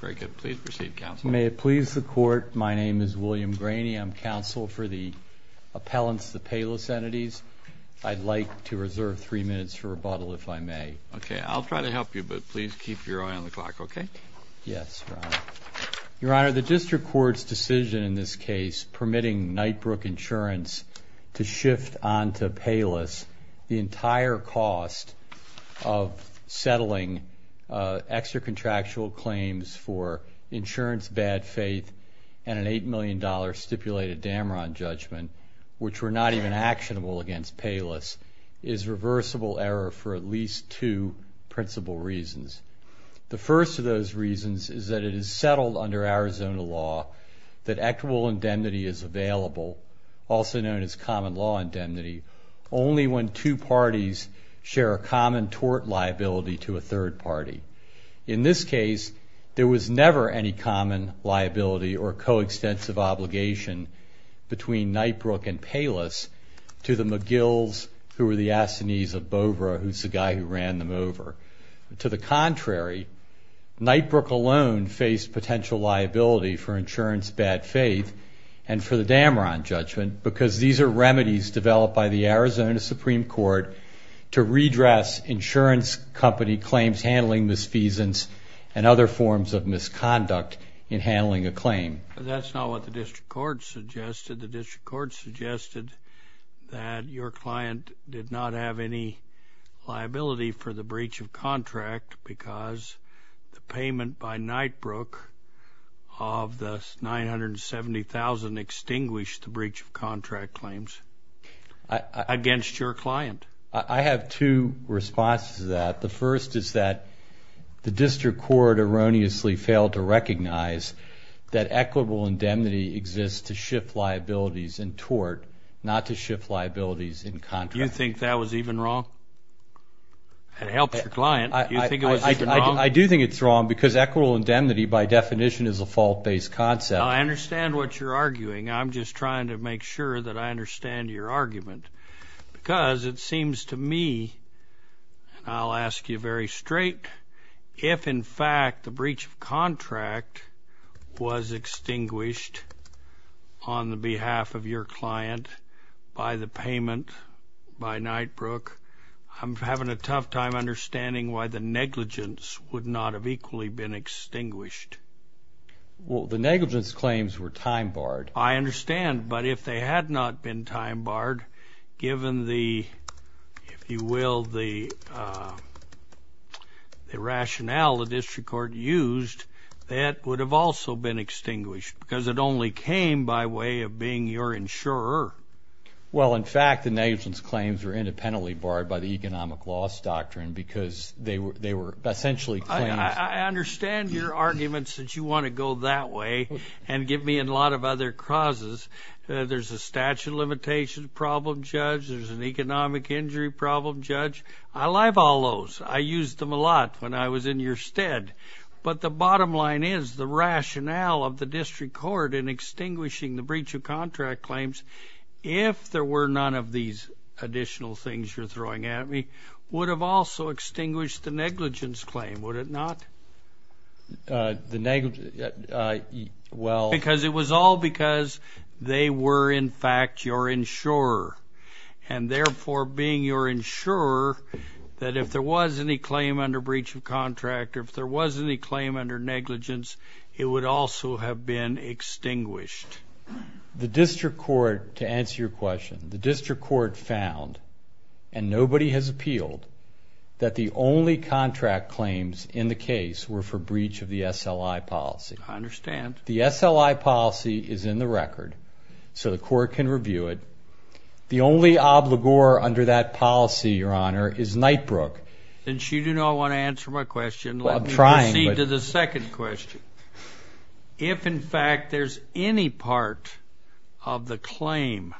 Very good. Please proceed, Counsel. May it please the Court, my name is William Graney. I'm Counsel for the appellants, the Payless entities. I'd like to reserve three minutes for rebuttal, if I may. Okay, I'll try to help you, but please keep your eye on the clock, okay? Yes, Your Honor. Your Honor, the District Court's decision in this case permitting Knightbrook Insurance to shift onto Payless the entire cost of settling extra contractual claims for insurance bad faith and an $8 million stipulated Damron judgment, which were not even actionable against Payless, is reversible error for at least two principal reasons. The first of those reasons is that it is settled under Arizona law that equitable indemnity is available, also known as common law indemnity, only when two parties share a common tort liability to a third party. In this case, there was never any common liability or co-extensive obligation between Knightbrook and Payless to the McGills, who were the assinees of Bovra, who's the guy who ran them over. To the contrary, Knightbrook alone faced potential liability for insurance bad faith and for the to redress insurance company claims handling misfeasance and other forms of misconduct in handling a claim. That's not what the District Court suggested. The District Court suggested that your client did not have any liability for the breach of contract because the payment by Knightbrook of the $970,000 extinguished the breach of contract claims against your client. I have two responses to that. The first is that the District Court erroneously failed to recognize that equitable indemnity exists to shift liabilities in tort, not to shift liabilities in contract. You think that was even wrong? It helped your client. Do you think it was even wrong? Your definition is a fault-based concept. I understand what you're arguing. I'm just trying to make sure that I understand your argument because it seems to me, and I'll ask you very straight, if in fact the breach of contract was extinguished on the behalf of your client by the payment by Knightbrook, I'm having a tough time understanding why the negligence would not have equally been extinguished. Well, the negligence claims were time-barred. I understand, but if they had not been time-barred, given the, if you will, the rationale the District Court used, that would have also been extinguished because it only came by way of being your insurer. Well, in fact, the negligence claims were independently barred by the economic loss doctrine because they were essentially claims. I understand your arguments that you want to go that way and give me a lot of other causes. There's a statute of limitations problem, Judge. There's an economic injury problem, Judge. I'll have all those. I used them a lot when I was in your stead, but the bottom line is the rationale of the District Court in extinguishing the breach of contract claims, if there were none of these additional things you're throwing at me, would have also extinguished the negligence claim, would it not? Well... Because it was all because they were, in fact, your insurer, and therefore, being your insurer, that if there was any claim under breach of contract, or if there was any claim under negligence, it would also have been extinguished. The District Court, to answer your question, the District Court has appealed that the only contract claims in the case were for breach of the SLI policy. I understand. The SLI policy is in the record, so the court can review it. The only obligor under that policy, Your Honor, is Nightbrook. Since you do not want to answer my question, let me proceed to the second question. If, in fact, there's any part of the claim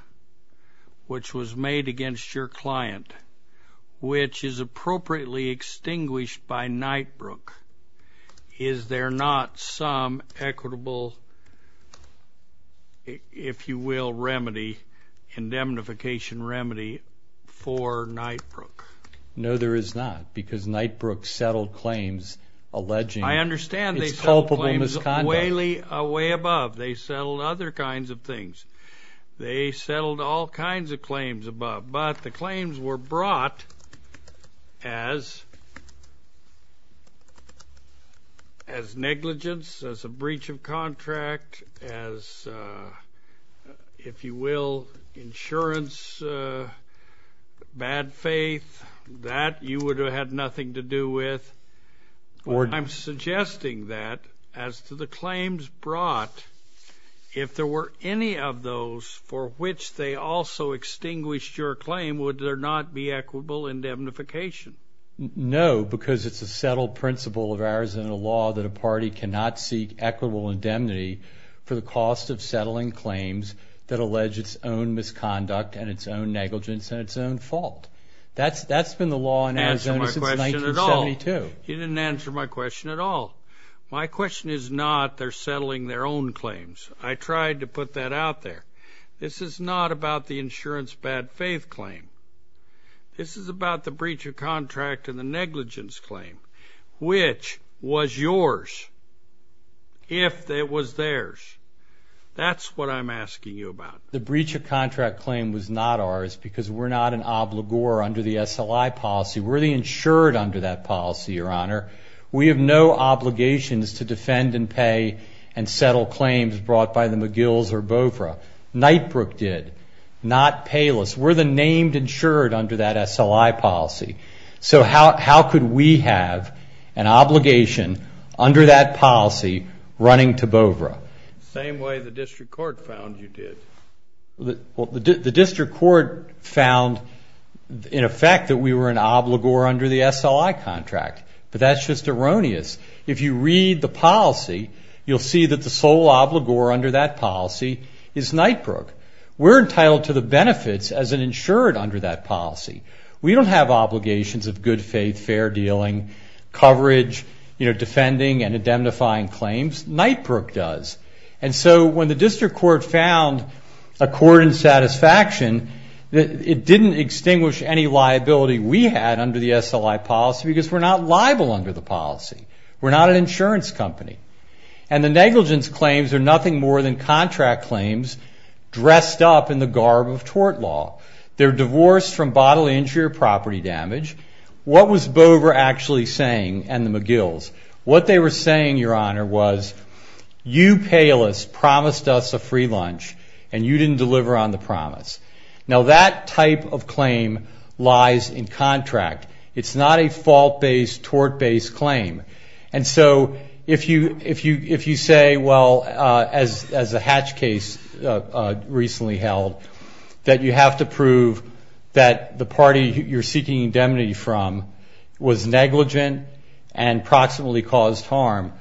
which was made against your client which is appropriately extinguished by Nightbrook, is there not some equitable, if you will, remedy, indemnification remedy, for Nightbrook? No, there is not, because they settled other kinds of things. They settled all kinds of claims above, but the claims were brought as negligence, as a breach of contract, as, if you will, insurance, bad faith. That you would have had nothing to do with. I'm suggesting that, as to the claims brought, if there were any of those for which they also extinguished your claim, would there not be equitable indemnification? No, because it's a settled principle of Arizona law that a party cannot seek equitable indemnity for the cost of settling claims that allege its own misconduct and its own negligence and its own fault. That's been the law in Arizona since 1972. You didn't answer my question at all. My question is not they're settling their own claims. I tried to put that out there. This is not about the insurance bad faith claim. This is about the breach of contract and the negligence claim, which was yours, if it was theirs. That's what I'm asking you about. The breach of contract claim was not ours because we're not an obligor under the SLI policy. We're the insured under that policy, your honor. We have no obligations to defend and pay and settle claims brought by the McGill's or BOFRA. Knightbrook did, not Payless. We're the named insured under that SLI policy. So how could we have an obligation under that policy running to BOFRA? Same way the district court found you did. The district court found, in effect, that we were an obligor under the SLI contract. But that's just erroneous. If you read the policy, you'll see that the sole obligor under that policy is Knightbrook. We're entitled to the benefits as an insured under that policy. We don't have obligations of good faith, fair dealing, coverage, defending and indemnifying claims. Knightbrook does. And so when the district court found a court in satisfaction, it didn't extinguish any liability we had under the SLI policy because we're not liable under the policy. We're not an insurance company. And the negligence claims are nothing more than contract claims dressed up in the garb of tort law. They're divorced from bodily injury or property damage. What was BOFRA actually saying and the McGill's? What they were saying, Your Honor, was you payless promised us a free lunch and you didn't deliver on the promise. Now that type of claim lies in contract. It's not a fault-based, tort-based claim. And so if you say, well, as the Hatch case recently held, that you have to prove that the and proximately caused harm,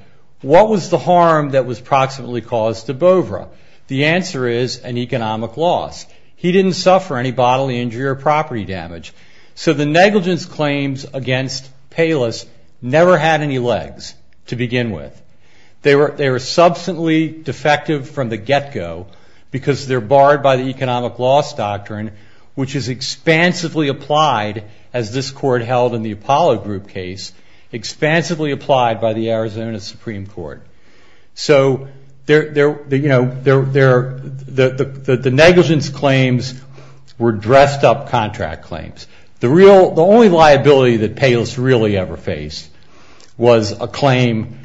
what was the harm that was proximately caused to BOFRA? The answer is an economic loss. He didn't suffer any bodily injury or property damage. So the negligence claims against payless never had any legs to begin with. They were substantially defective from the get-go because they're barred by the economic loss doctrine, which is expansively applied as this expansively applied by the Arizona Supreme Court. So the negligence claims were dressed up contract claims. The only liability that payless really ever faced was a claim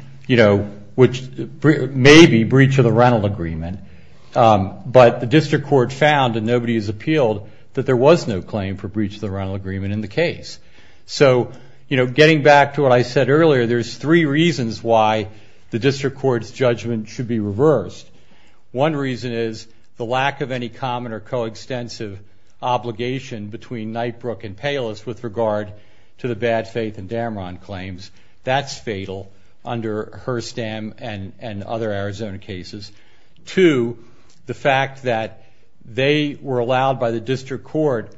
which may be breach of the rental agreement. But the district court found, and nobody has appealed, that there was no claim for breach of the what I said earlier, there's three reasons why the district court's judgment should be reversed. One reason is the lack of any common or coextensive obligation between Knightbrook and payless with regard to the bad faith and Dameron claims. That's fatal under Herstam and other Arizona cases. Two, the fact that they were allowed by the district court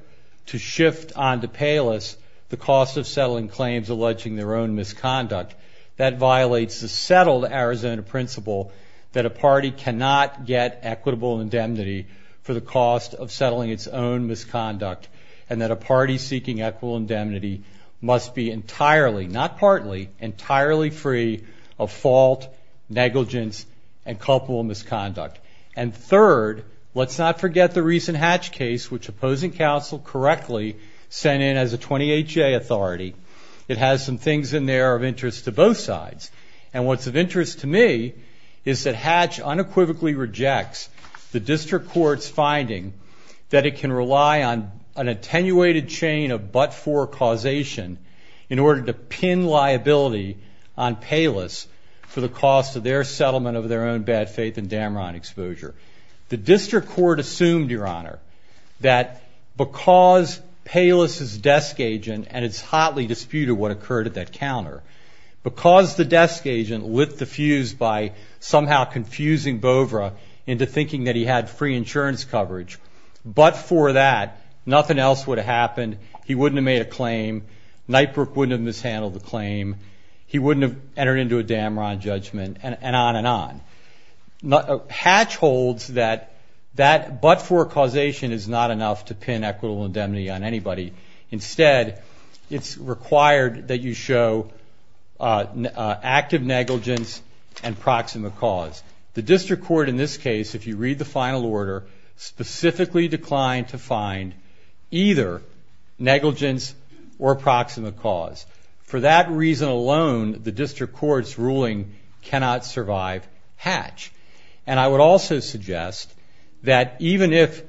to shift onto payless the cost of settling claims alleging their own misconduct. That violates the settled Arizona principle that a party cannot get equitable indemnity for the cost of settling its own misconduct and that a party seeking equitable indemnity must be entirely, not partly, entirely free of fault, negligence, and culpable misconduct. And third, let's not forget the recent Hatch case, which opposing counsel correctly sent in as a 28-J authority. It has some things in there of interest to both sides. And what's of interest to me is that Hatch unequivocally rejects the district court's finding that it can rely on an attenuated chain of but-for causation in order to pin liability on payless for the cost of their settlement of their own bad faith and Dameron exposure. The district court assumed, Your Honor, that because payless is desk agent and it's hotly disputed what occurred at that counter, because the desk agent lit the fuse by somehow confusing Bovra into thinking that he had free insurance coverage, but for that nothing else would have happened. He wouldn't have made a claim. Nightbrook wouldn't have mishandled the claim. He wouldn't have entered into a Dameron judgment, and on and on. Hatch holds that that but-for causation is not enough to pin equitable indemnity on anybody. Instead, it's required that you show active negligence and proximate cause. The district court, in this case, if you read the final order, specifically declined to find either negligence or cannot survive Hatch. And I would also suggest that even if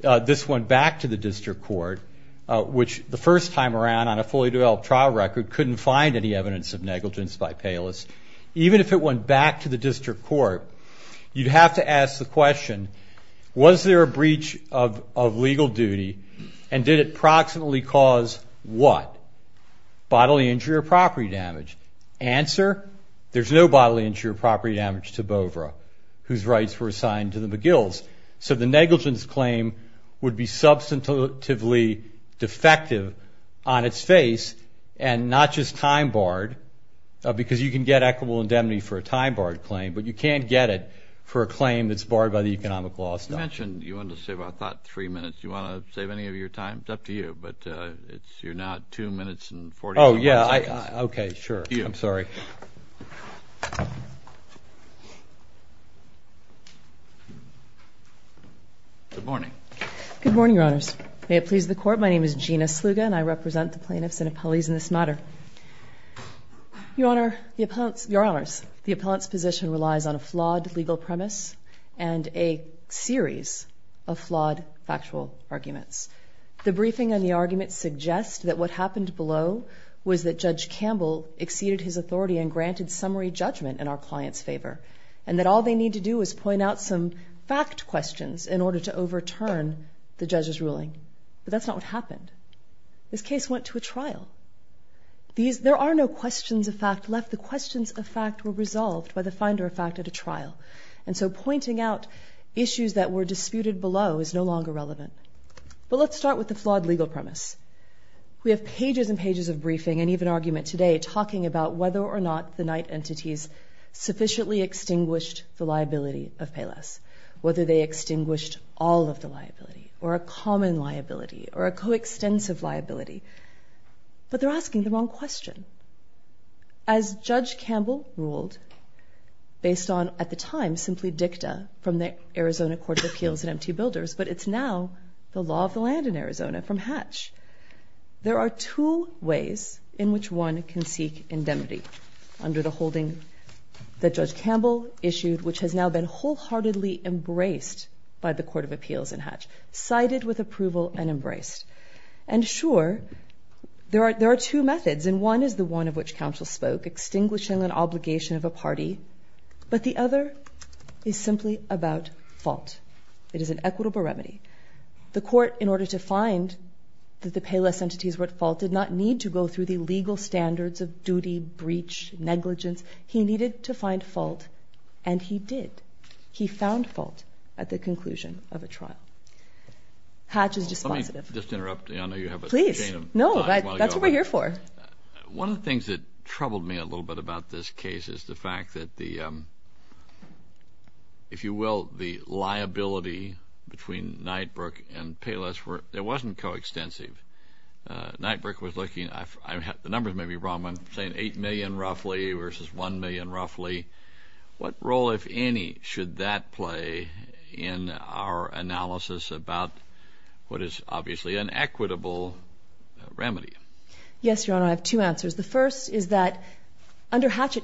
this went back to the district court, which the first time around on a fully developed trial record couldn't find any evidence of negligence by payless, even if it went back to the district court, you'd have to ask the question, Was there a breach of legal duty and did it proximately cause what? Bodily injury or property damage? Answer, there's no bodily injury or property damage to Bovra, whose rights were assigned to the McGills. So the negligence claim would be substantively defective on its face, and not just time barred, because you can get equitable indemnity for a time barred claim, but you can't get it for a claim that's barred by the economic law. You mentioned you wanted to save our thought three minutes. Do you want to save any of your time? It's up to you, but it's you're not two minutes and 40. Oh, yeah. Okay, sure. I'm sorry. Good morning. Good morning, Your Honors. May it please the court. My name is Gina Sluga, and I represent the plaintiffs and appellees in this matter. Your Honor, the appellants, Your Honors, the appellant's position relies on a flawed legal premise and a series of flawed factual arguments. The briefing on the argument suggests that what happened below was that Judge Campbell exceeded his authority and granted summary judgment in our client's favor, and that all they need to do is point out some fact questions in order to overturn the judge's ruling. But that's not what happened. This case went to a trial. There are no questions of fact left. The questions of fact were resolved by the finder of fact at a trial, and so pointing out issues that were disputed below is no longer relevant. But let's start with the legal premise. We have pages and pages of briefing and even argument today talking about whether or not the Knight entities sufficiently extinguished the liability of Payless, whether they extinguished all of the liability, or a common liability, or a coextensive liability. But they're asking the wrong question. As Judge Campbell ruled, based on, at the time, simply dicta from the Arizona Court of Appeals and MT Builders, but it's now the law of the Arizona, from Hatch. There are two ways in which one can seek indemnity under the holding that Judge Campbell issued, which has now been wholeheartedly embraced by the Court of Appeals in Hatch, cited with approval and embraced. And sure, there are two methods, and one is the one of which counsel spoke, extinguishing an obligation of a party, but the other is simply about fault. It is an equitable remedy. The court, in order to find that the Payless entities were at fault, did not need to go through the legal standards of duty, breach, negligence. He needed to find fault, and he did. He found fault at the conclusion of a trial. Hatch is dispositive. Let me just interrupt. I know you have a chain of time. Please. No, that's what we're here for. One of the things that troubled me a little bit about this case is the fact that the, if you will, the liability between Knightbrook and Payless were, it wasn't coextensive. Knightbrook was looking, I've had, the numbers may be wrong, but I'm saying eight million roughly versus one million roughly. What role, if any, should that play in our analysis about what is obviously an equitable remedy? Yes, Your Honor, I have two answers. The first is that under Hatch,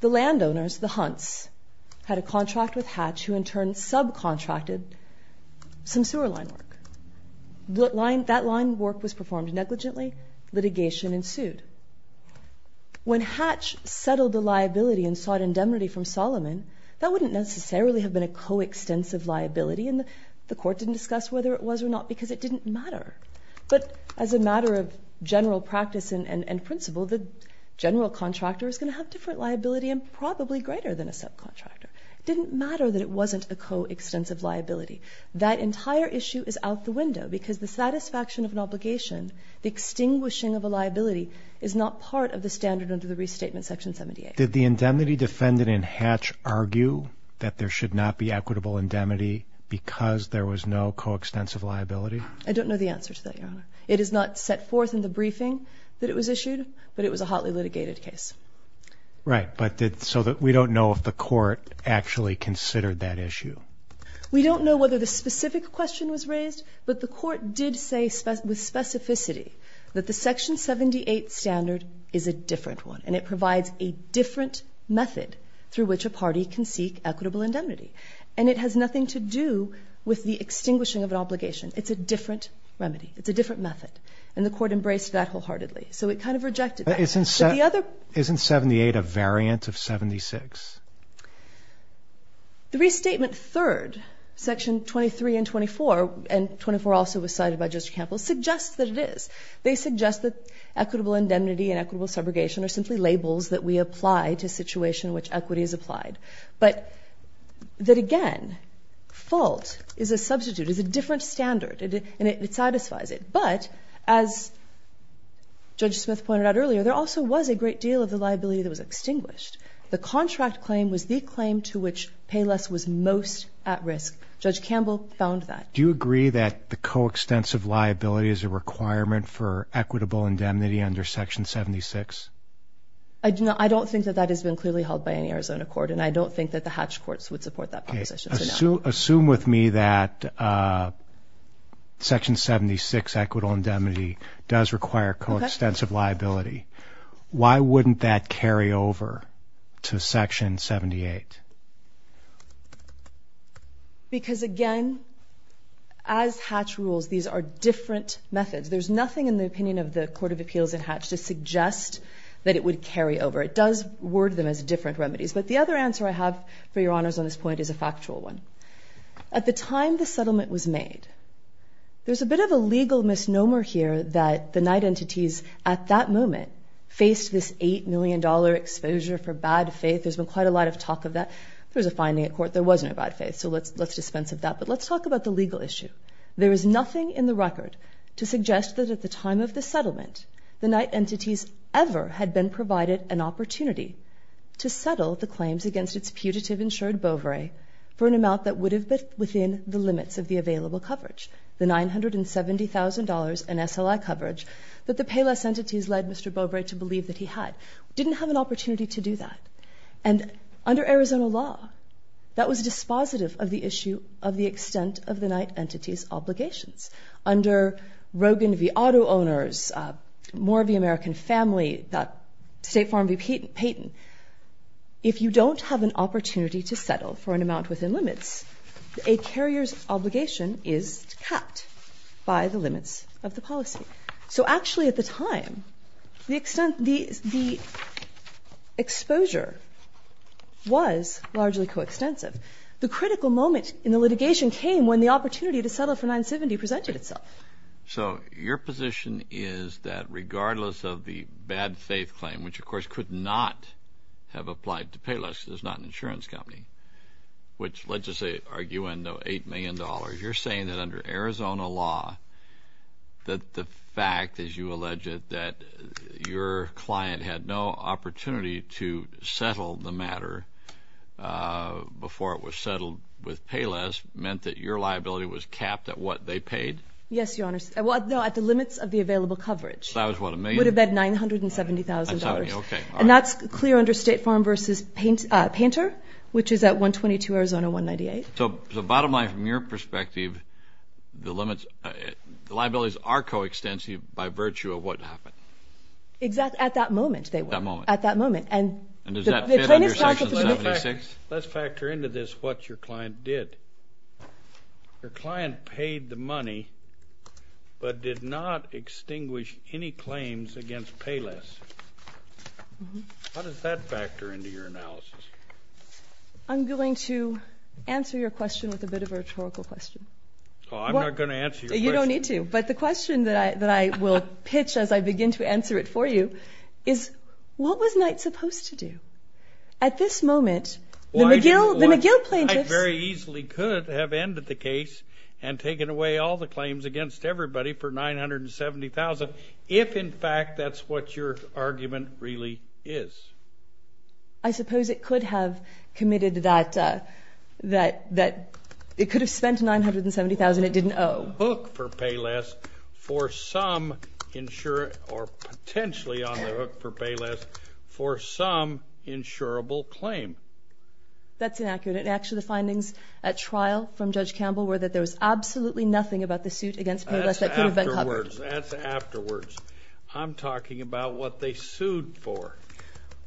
the landowners, the Hunts, had a contract with Hatch who in turn subcontracted some sewer line work. That line work was performed negligently. Litigation ensued. When Hatch settled the liability and sought indemnity from Solomon, that wouldn't necessarily have been a coextensive liability, and the court didn't discuss whether it was or not because it didn't matter. But as a different liability and probably greater than a subcontractor. It didn't matter that it wasn't a coextensive liability. That entire issue is out the window because the satisfaction of an obligation, the extinguishing of a liability, is not part of the standard under the Restatement Section 78. Did the indemnity defendant in Hatch argue that there should not be equitable indemnity because there was no coextensive liability? I don't know the answer to that, Your Honor. It is not set forth in the briefing that it was right, but so that we don't know if the court actually considered that issue. We don't know whether the specific question was raised, but the court did say with specificity that the Section 78 standard is a different one, and it provides a different method through which a party can seek equitable indemnity, and it has nothing to do with the extinguishing of an obligation. It's a different remedy. It's a different method, and the court embraced that wholeheartedly, so it kind of rejected that. Isn't 78 a variant of 76? The Restatement Third, Section 23 and 24, and 24 also was cited by Judge Campbell, suggests that it is. They suggest that equitable indemnity and equitable subrogation are simply labels that we apply to a situation in which equity is applied, but that again, fault is a substitute, is a different standard, and it satisfies it, but as Judge Smith pointed out earlier, there also was a great deal of the liability that was extinguished. The contract claim was the claim to which pay less was most at risk. Judge Campbell found that. Do you agree that the coextensive liability is a requirement for equitable indemnity under Section 76? I don't think that that has been clearly held by any Arizona court, and I don't think that the Hatch courts would support that proposition. Assume with me that Section 76, equitable indemnity, does require coextensive liability. Why wouldn't that carry over to Section 78? Because again, as Hatch rules, these are different methods. There's nothing in the opinion of the Court of Appeals in Hatch to suggest that it would carry over. It does word them as different remedies, but the other answer I have for your one, at the time the settlement was made, there's a bit of a legal misnomer here that the night entities at that moment faced this $8 million exposure for bad faith. There's been quite a lot of talk of that. There was a finding at court there wasn't a bad faith, so let's dispense of that, but let's talk about the legal issue. There is nothing in the record to suggest that at the time of the settlement, the night entities ever had been provided an opportunity to settle the claims against its putative insured Bovary for an amount that would have been within the limits of the available coverage, the $970,000 in SLI coverage that the payless entities led Mr. Bovary to believe that he had. Didn't have an opportunity to do that, and under Arizona law, that was dispositive of the issue of the extent of the night entities' obligations. Under Rogan v. Auto Owners, Moore v. American Family, State Farm v. Payton, if you don't have an opportunity to settle for an amount within the limits, a carrier's obligation is capped by the limits of the policy. So actually at the time, the extent, the exposure was largely coextensive. The critical moment in the litigation came when the opportunity to settle for $970,000 presented itself. So your position is that regardless of the bad faith claim, which of course could not have applied to Payless, it's not an insurance company, which, let's just say, arguing $8 million, you're saying that under Arizona law that the fact, as you allege it, that your client had no opportunity to settle the matter before it was settled with Payless meant that your liability was capped at what they paid? Yes, Your Honor, at the limits of the available coverage. That was what, a million? It would have been $970,000, and that's clear under State Farm v. Painter, which is at 122 Arizona 198. So the bottom line, from your perspective, the limits, the liabilities are coextensive by virtue of what happened? Exactly, at that moment, they were. At that moment. And does that fit under Section 76? Let's factor into this what your client did. Your client paid the money, but did not extinguish any claims against Payless. How does that factor into your analysis? I'm going to answer your question with a bit of a rhetorical question. Oh, I'm not going to answer your question. You don't need to, but the question that I will pitch as I begin to answer it for you is, what was Knight supposed to do? At this moment, the McGill plaintiffs... against everybody for $970,000, if in fact that's what your argument really is. I suppose it could have committed that, that, that it could have spent $970,000 it didn't owe. Hook for Payless for some insurer, or potentially on the hook for Payless for some insurable claim. That's inaccurate. Actually, the findings at trial from Judge Campbell were that there was absolutely nothing about the suit against Payless that could have been covered. That's afterwards. I'm talking about what they sued for.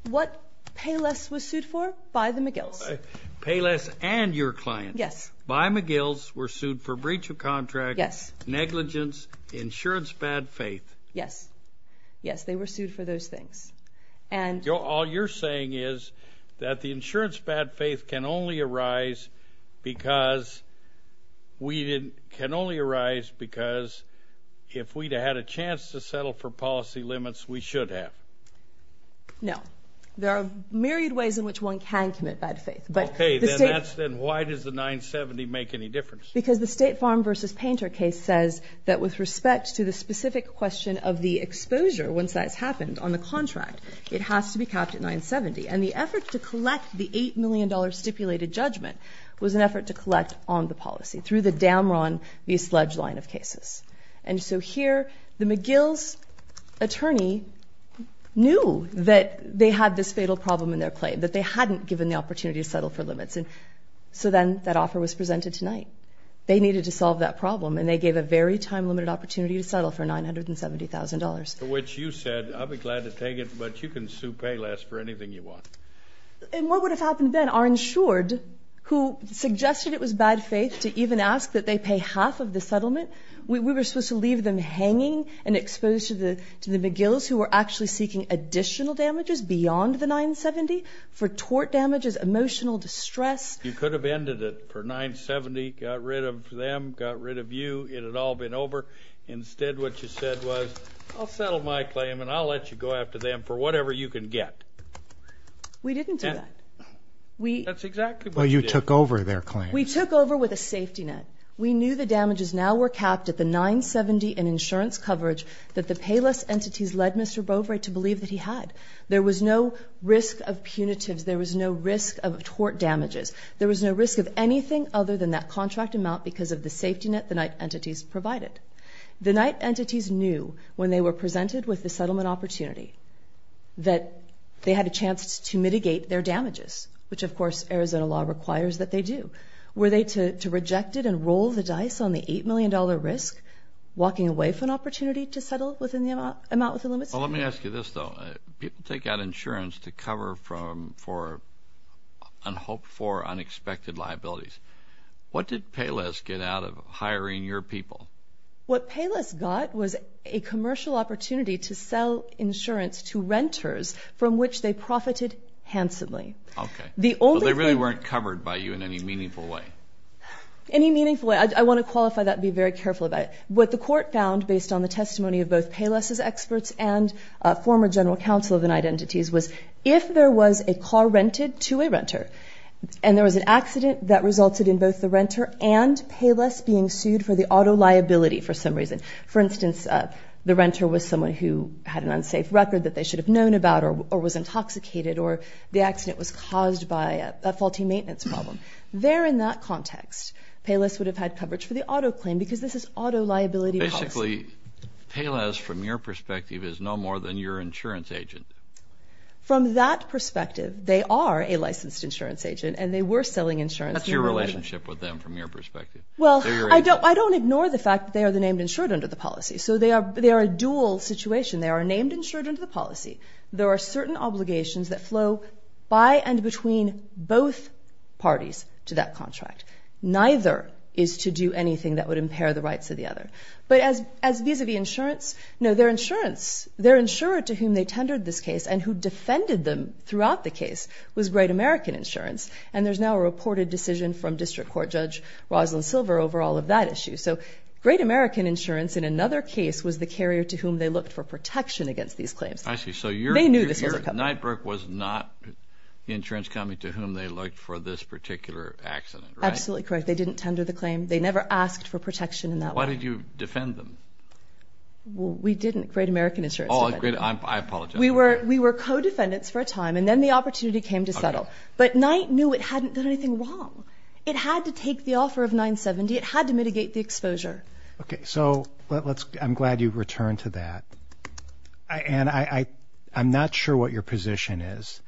What Payless was sued for by the McGills. Payless and your client. Yes. By McGills were sued for breach of contract. Yes. Negligence, insurance bad faith. Yes. Yes, they were sued for those things. All you're saying is that the insurance bad faith can only arise because we didn't... can only arise because if we'd had a chance to settle for policy limits, we should have. No. There are myriad ways in which one can commit bad faith. Okay, then why does the $970,000 make any difference? Because the State Farm versus Painter case says that with respect to the specific question of the exposure, once that's happened on the contract, it has to be capped at $970,000. And the effort to collect the $8 million stipulated judgment was an effort to collect on the policy through the Damron v. Sledge line of cases. And so here, the McGills attorney knew that they had this fatal problem in their claim, that they hadn't given the opportunity to settle for limits. And so then that offer was presented tonight. They needed to solve that problem, and they gave a very time-limited opportunity to settle for $970,000. Which you said, I'll be glad to take it, but you can sue Payless for anything you want. And what would have happened then? Our insured, who suggested it was bad faith to even ask that they pay half of the settlement, we were supposed to leave them hanging and exposed to the McGills who were actually seeking additional damages beyond the $970,000 for tort damages, emotional distress. You could have ended it for $970,000, got rid of them, got rid of you, it had all been over. Instead, what you said was, I'll settle my claim and I'll let you go after them for whatever you can get. We didn't do that. That's exactly what you did. Well, you took over their claim. We took over with a safety net. We knew the damages now were capped at the $970,000 in insurance coverage that the Payless entities led Mr. Bovary to believe that he had. There was no risk of punitives. There was no risk of tort damages. There was no risk of anything other than that contract amount because of the safety net the Knight entities provided. The Knight entities knew when they were presented with the settlement opportunity that they had a chance to mitigate their damages, which, of course, Arizona law requires that they do. Were they to reject it and roll the dice on the $8 million risk, walking away from an opportunity to settle within the amount within limits? Well, let me ask you this, though. People take out insurance to cover for and hope for unexpected liabilities. What did Payless get out of hiring your people? What Payless got was a commercial opportunity to sell insurance to renters from which they profited handsomely. Okay. But they really weren't covered by you in any meaningful way? Any meaningful way. I want to qualify that and be very careful about it. What the court found based on the testimony of both Payless's experts and former general counsel of the Knight entities was if there was a car rented to a renter and there was an accident that resulted in both the renter and Payless being sued for the auto liability for some reason, for instance, the renter was someone who had an unsafe record that they should have known about or was intoxicated or the accident was caused by a faulty maintenance problem, there in that context, Payless would have had coverage for the auto claim because this is auto liability policy. Basically, Payless, from your perspective, is no more than your insurance agent. From that perspective, they are a licensed insurance agent and they were selling insurance. What's your relationship with them from your perspective? Well, I don't ignore the fact that they are the named insured under the policy. So they are a dual situation. They are named insured under the policy. There are certain obligations that flow by and between both parties to that contract. Neither is to do anything that would impair the rights of the other. But as vis-a-vis insurance, no, their insurance, their insurer to whom they tendered this case and who defended them throughout the case was Great American Insurance and there's now a reported decision from District Court Judge Rosalyn Silver over all of that issue. So Great American Insurance in another case was the carrier to whom they looked for protection against these claims. I see. So your Knightbrook was not the insurance company to whom they looked for this particular accident, right? Absolutely correct. They didn't tender the claim. They never asked for protection in that way. Why did you defend them? We didn't. Great American Insurance did. Oh, I apologize. We were co-defendants for a time and then the opportunity came to settle. But Knight knew it hadn't done anything wrong. It had to take the offer of 970. It had to mitigate the exposure. Okay. So I'm glad you've returned to that. And I'm not sure what your position is.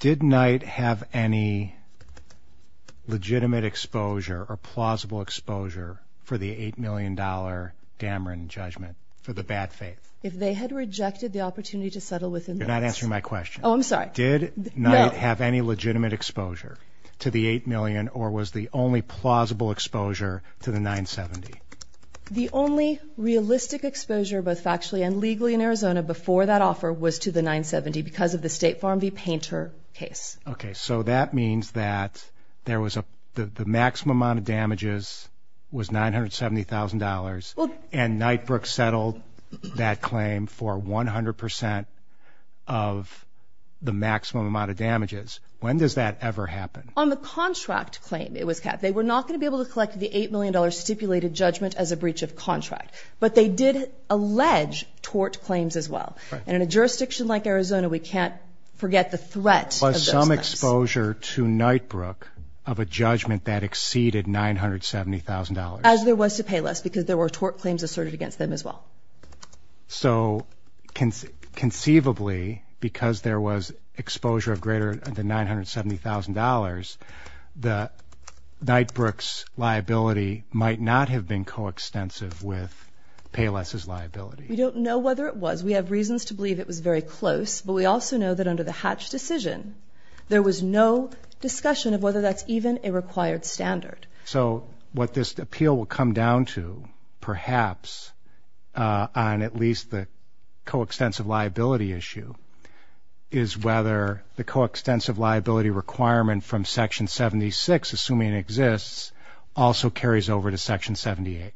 Did Knight have any legitimate exposure or plausible exposure for the $8 million Dameron judgment for the bad faith? If they had rejected the opportunity to settle within the last... You're not answering my question. Oh, I'm sorry. Did Knight have any legitimate exposure to the $8 million or was the only plausible exposure to the 970? The only realistic exposure both factually and legally in Arizona before that offer was to the 970 because of the State Farm v. Painter case. Okay. So that means that the maximum amount of damages was $970,000 and Knightbrook settled that claim for 100% of the maximum amount of damages. When does that ever happen? On the contract claim it was kept. They were not going to be able to collect the $8 million stipulated judgment as a breach of contract. But they did allege tort claims as well. And in a jurisdiction like Arizona, we can't forget the threat of those claims. Was some exposure to Knightbrook of a judgment that exceeded $970,000? As there was to Payless because there were tort claims asserted against them as well. So conceivably because there was exposure of greater than $970,000, Knightbrook's liability might not have been coextensive with Payless' liability. We don't know whether it was. We have reasons to believe it was very close. But we also know that under the Hatch decision, there was no discussion of whether that's even a required standard. So what this appeal will come down to, perhaps, on at least the coextensive liability issue, is whether the coextensive liability requirement from Section 76, assuming it exists, also carries over to Section 78.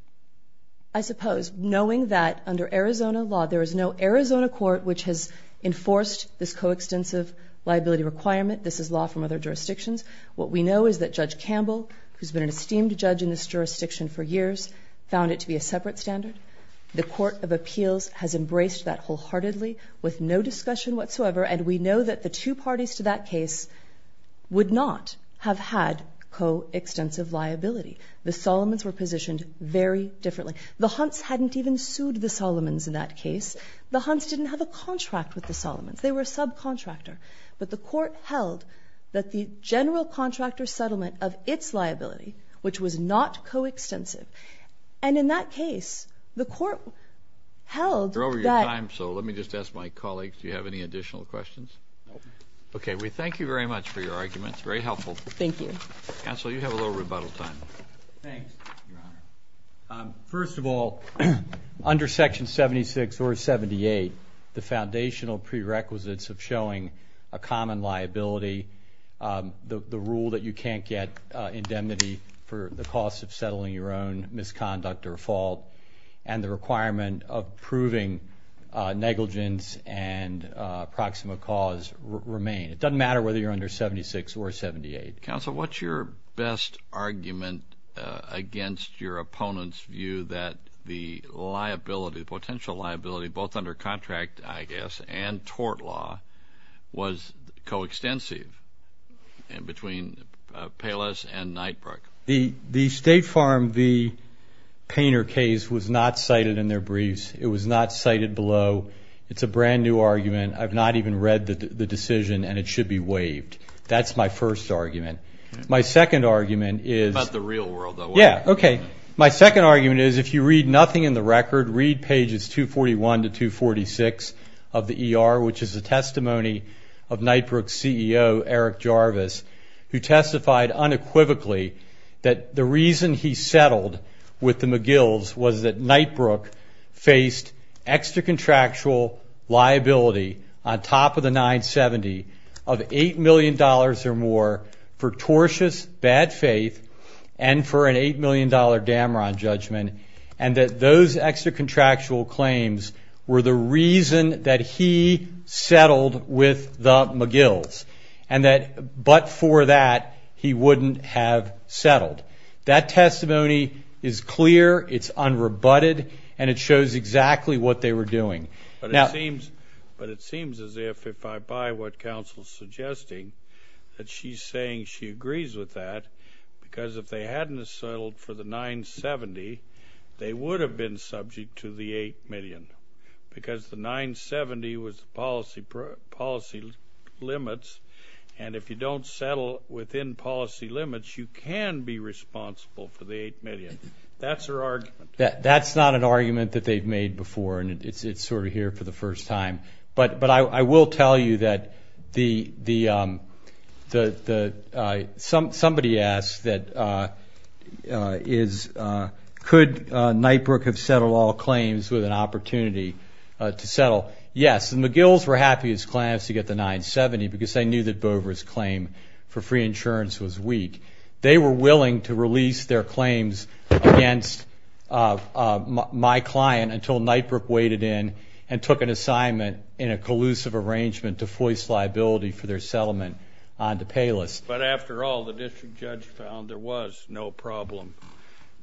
I suppose, knowing that under Arizona law, there is no Arizona court which has enforced this coextensive liability requirement. This is law from other jurisdictions. What we know is that Judge Campbell, who has been an esteemed judge in this jurisdiction for years, found it to be a separate standard. The Court of Appeals has embraced that wholeheartedly with no discussion whatsoever. And we know that the two parties to that case would not have had coextensive liability. The Solomons were positioned very differently. The Hunts hadn't even sued the Solomons in that case. The Hunts didn't have a contract with the Solomons. They were a subcontractor. But the court held that the general contractor settlement of its liability, which was not coextensive, and in that case, the court held that... You're over your time, so let me just ask my colleague, do you have any additional questions? No. Okay. We thank you very much for your arguments. Very helpful. Thank you. Counsel, you have a little rebuttal time. Thanks, Your Honor. First of all, under Section 76 or 78, the foundational prerequisites of showing a common liability, the rule that you can't get indemnity for the cost of settling your own misconduct or fault, and the requirement of proving negligence and proximate cause remain. It doesn't matter whether you're under 76 or 78. Counsel, what's your best argument against your opponent's view that the liability, the potential liability, both under contract, I guess, and tort law, was coextensive between Payless and Knightbrook? The State Farm v. Painter case was not cited in their briefs. It was not cited below. It's a brand-new argument. I've not even read the decision, and it should be waived. That's my first argument. My second argument is the real world. Yeah, okay. My second argument is if you read nothing in the record, read pages 241 to 246 of the ER, which is a testimony of Knightbrook's CEO, Eric Jarvis, who testified unequivocally that the reason he settled with the McGills was that Knightbrook faced extra-contractual liability on top of the 970 of $8 million or more for tortious bad faith and for an $8 million Dameron judgment, and that those extra-contractual claims were the reason that he settled with the McGills, but for that he wouldn't have settled. That testimony is clear, it's unrebutted, and it shows exactly what they were doing. But it seems as if, if I buy what counsel's suggesting, that she's saying she agrees with that because if they hadn't settled for the 970, they would have been subject to the $8 million because the 970 was policy limits, and if you don't settle within policy limits, you can be responsible for the $8 million. That's her argument. That's not an argument that they've made before, and it's sort of here for the first time. But I will tell you that somebody asked, could Knightbrook have settled all claims with an opportunity to settle? Well, yes, the McGills were happy as clams to get the 970 because they knew that Boever's claim for free insurance was weak. They were willing to release their claims against my client until Knightbrook waded in and took an assignment in a collusive arrangement to foist liability for their settlement onto Payless. But after all, the district judge found there was no problem.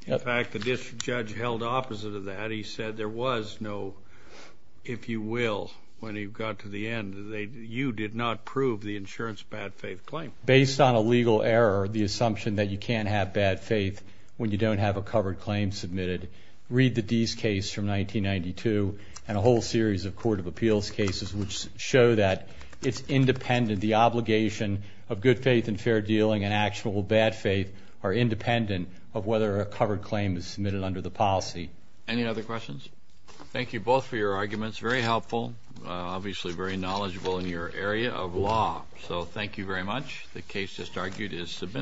In fact, the district judge held opposite of that. He said there was no, if you will, when he got to the end, you did not prove the insurance bad faith claim. Based on a legal error, the assumption that you can't have bad faith when you don't have a covered claim submitted, read the Dease case from 1992 and a whole series of court of appeals cases which show that it's independent, the obligation of good faith and fair dealing and actionable bad faith are independent of whether a covered claim is submitted under the policy. Any other questions? Thank you both for your arguments. Very helpful. Obviously very knowledgeable in your area of law. So thank you very much. The case just argued is submitted.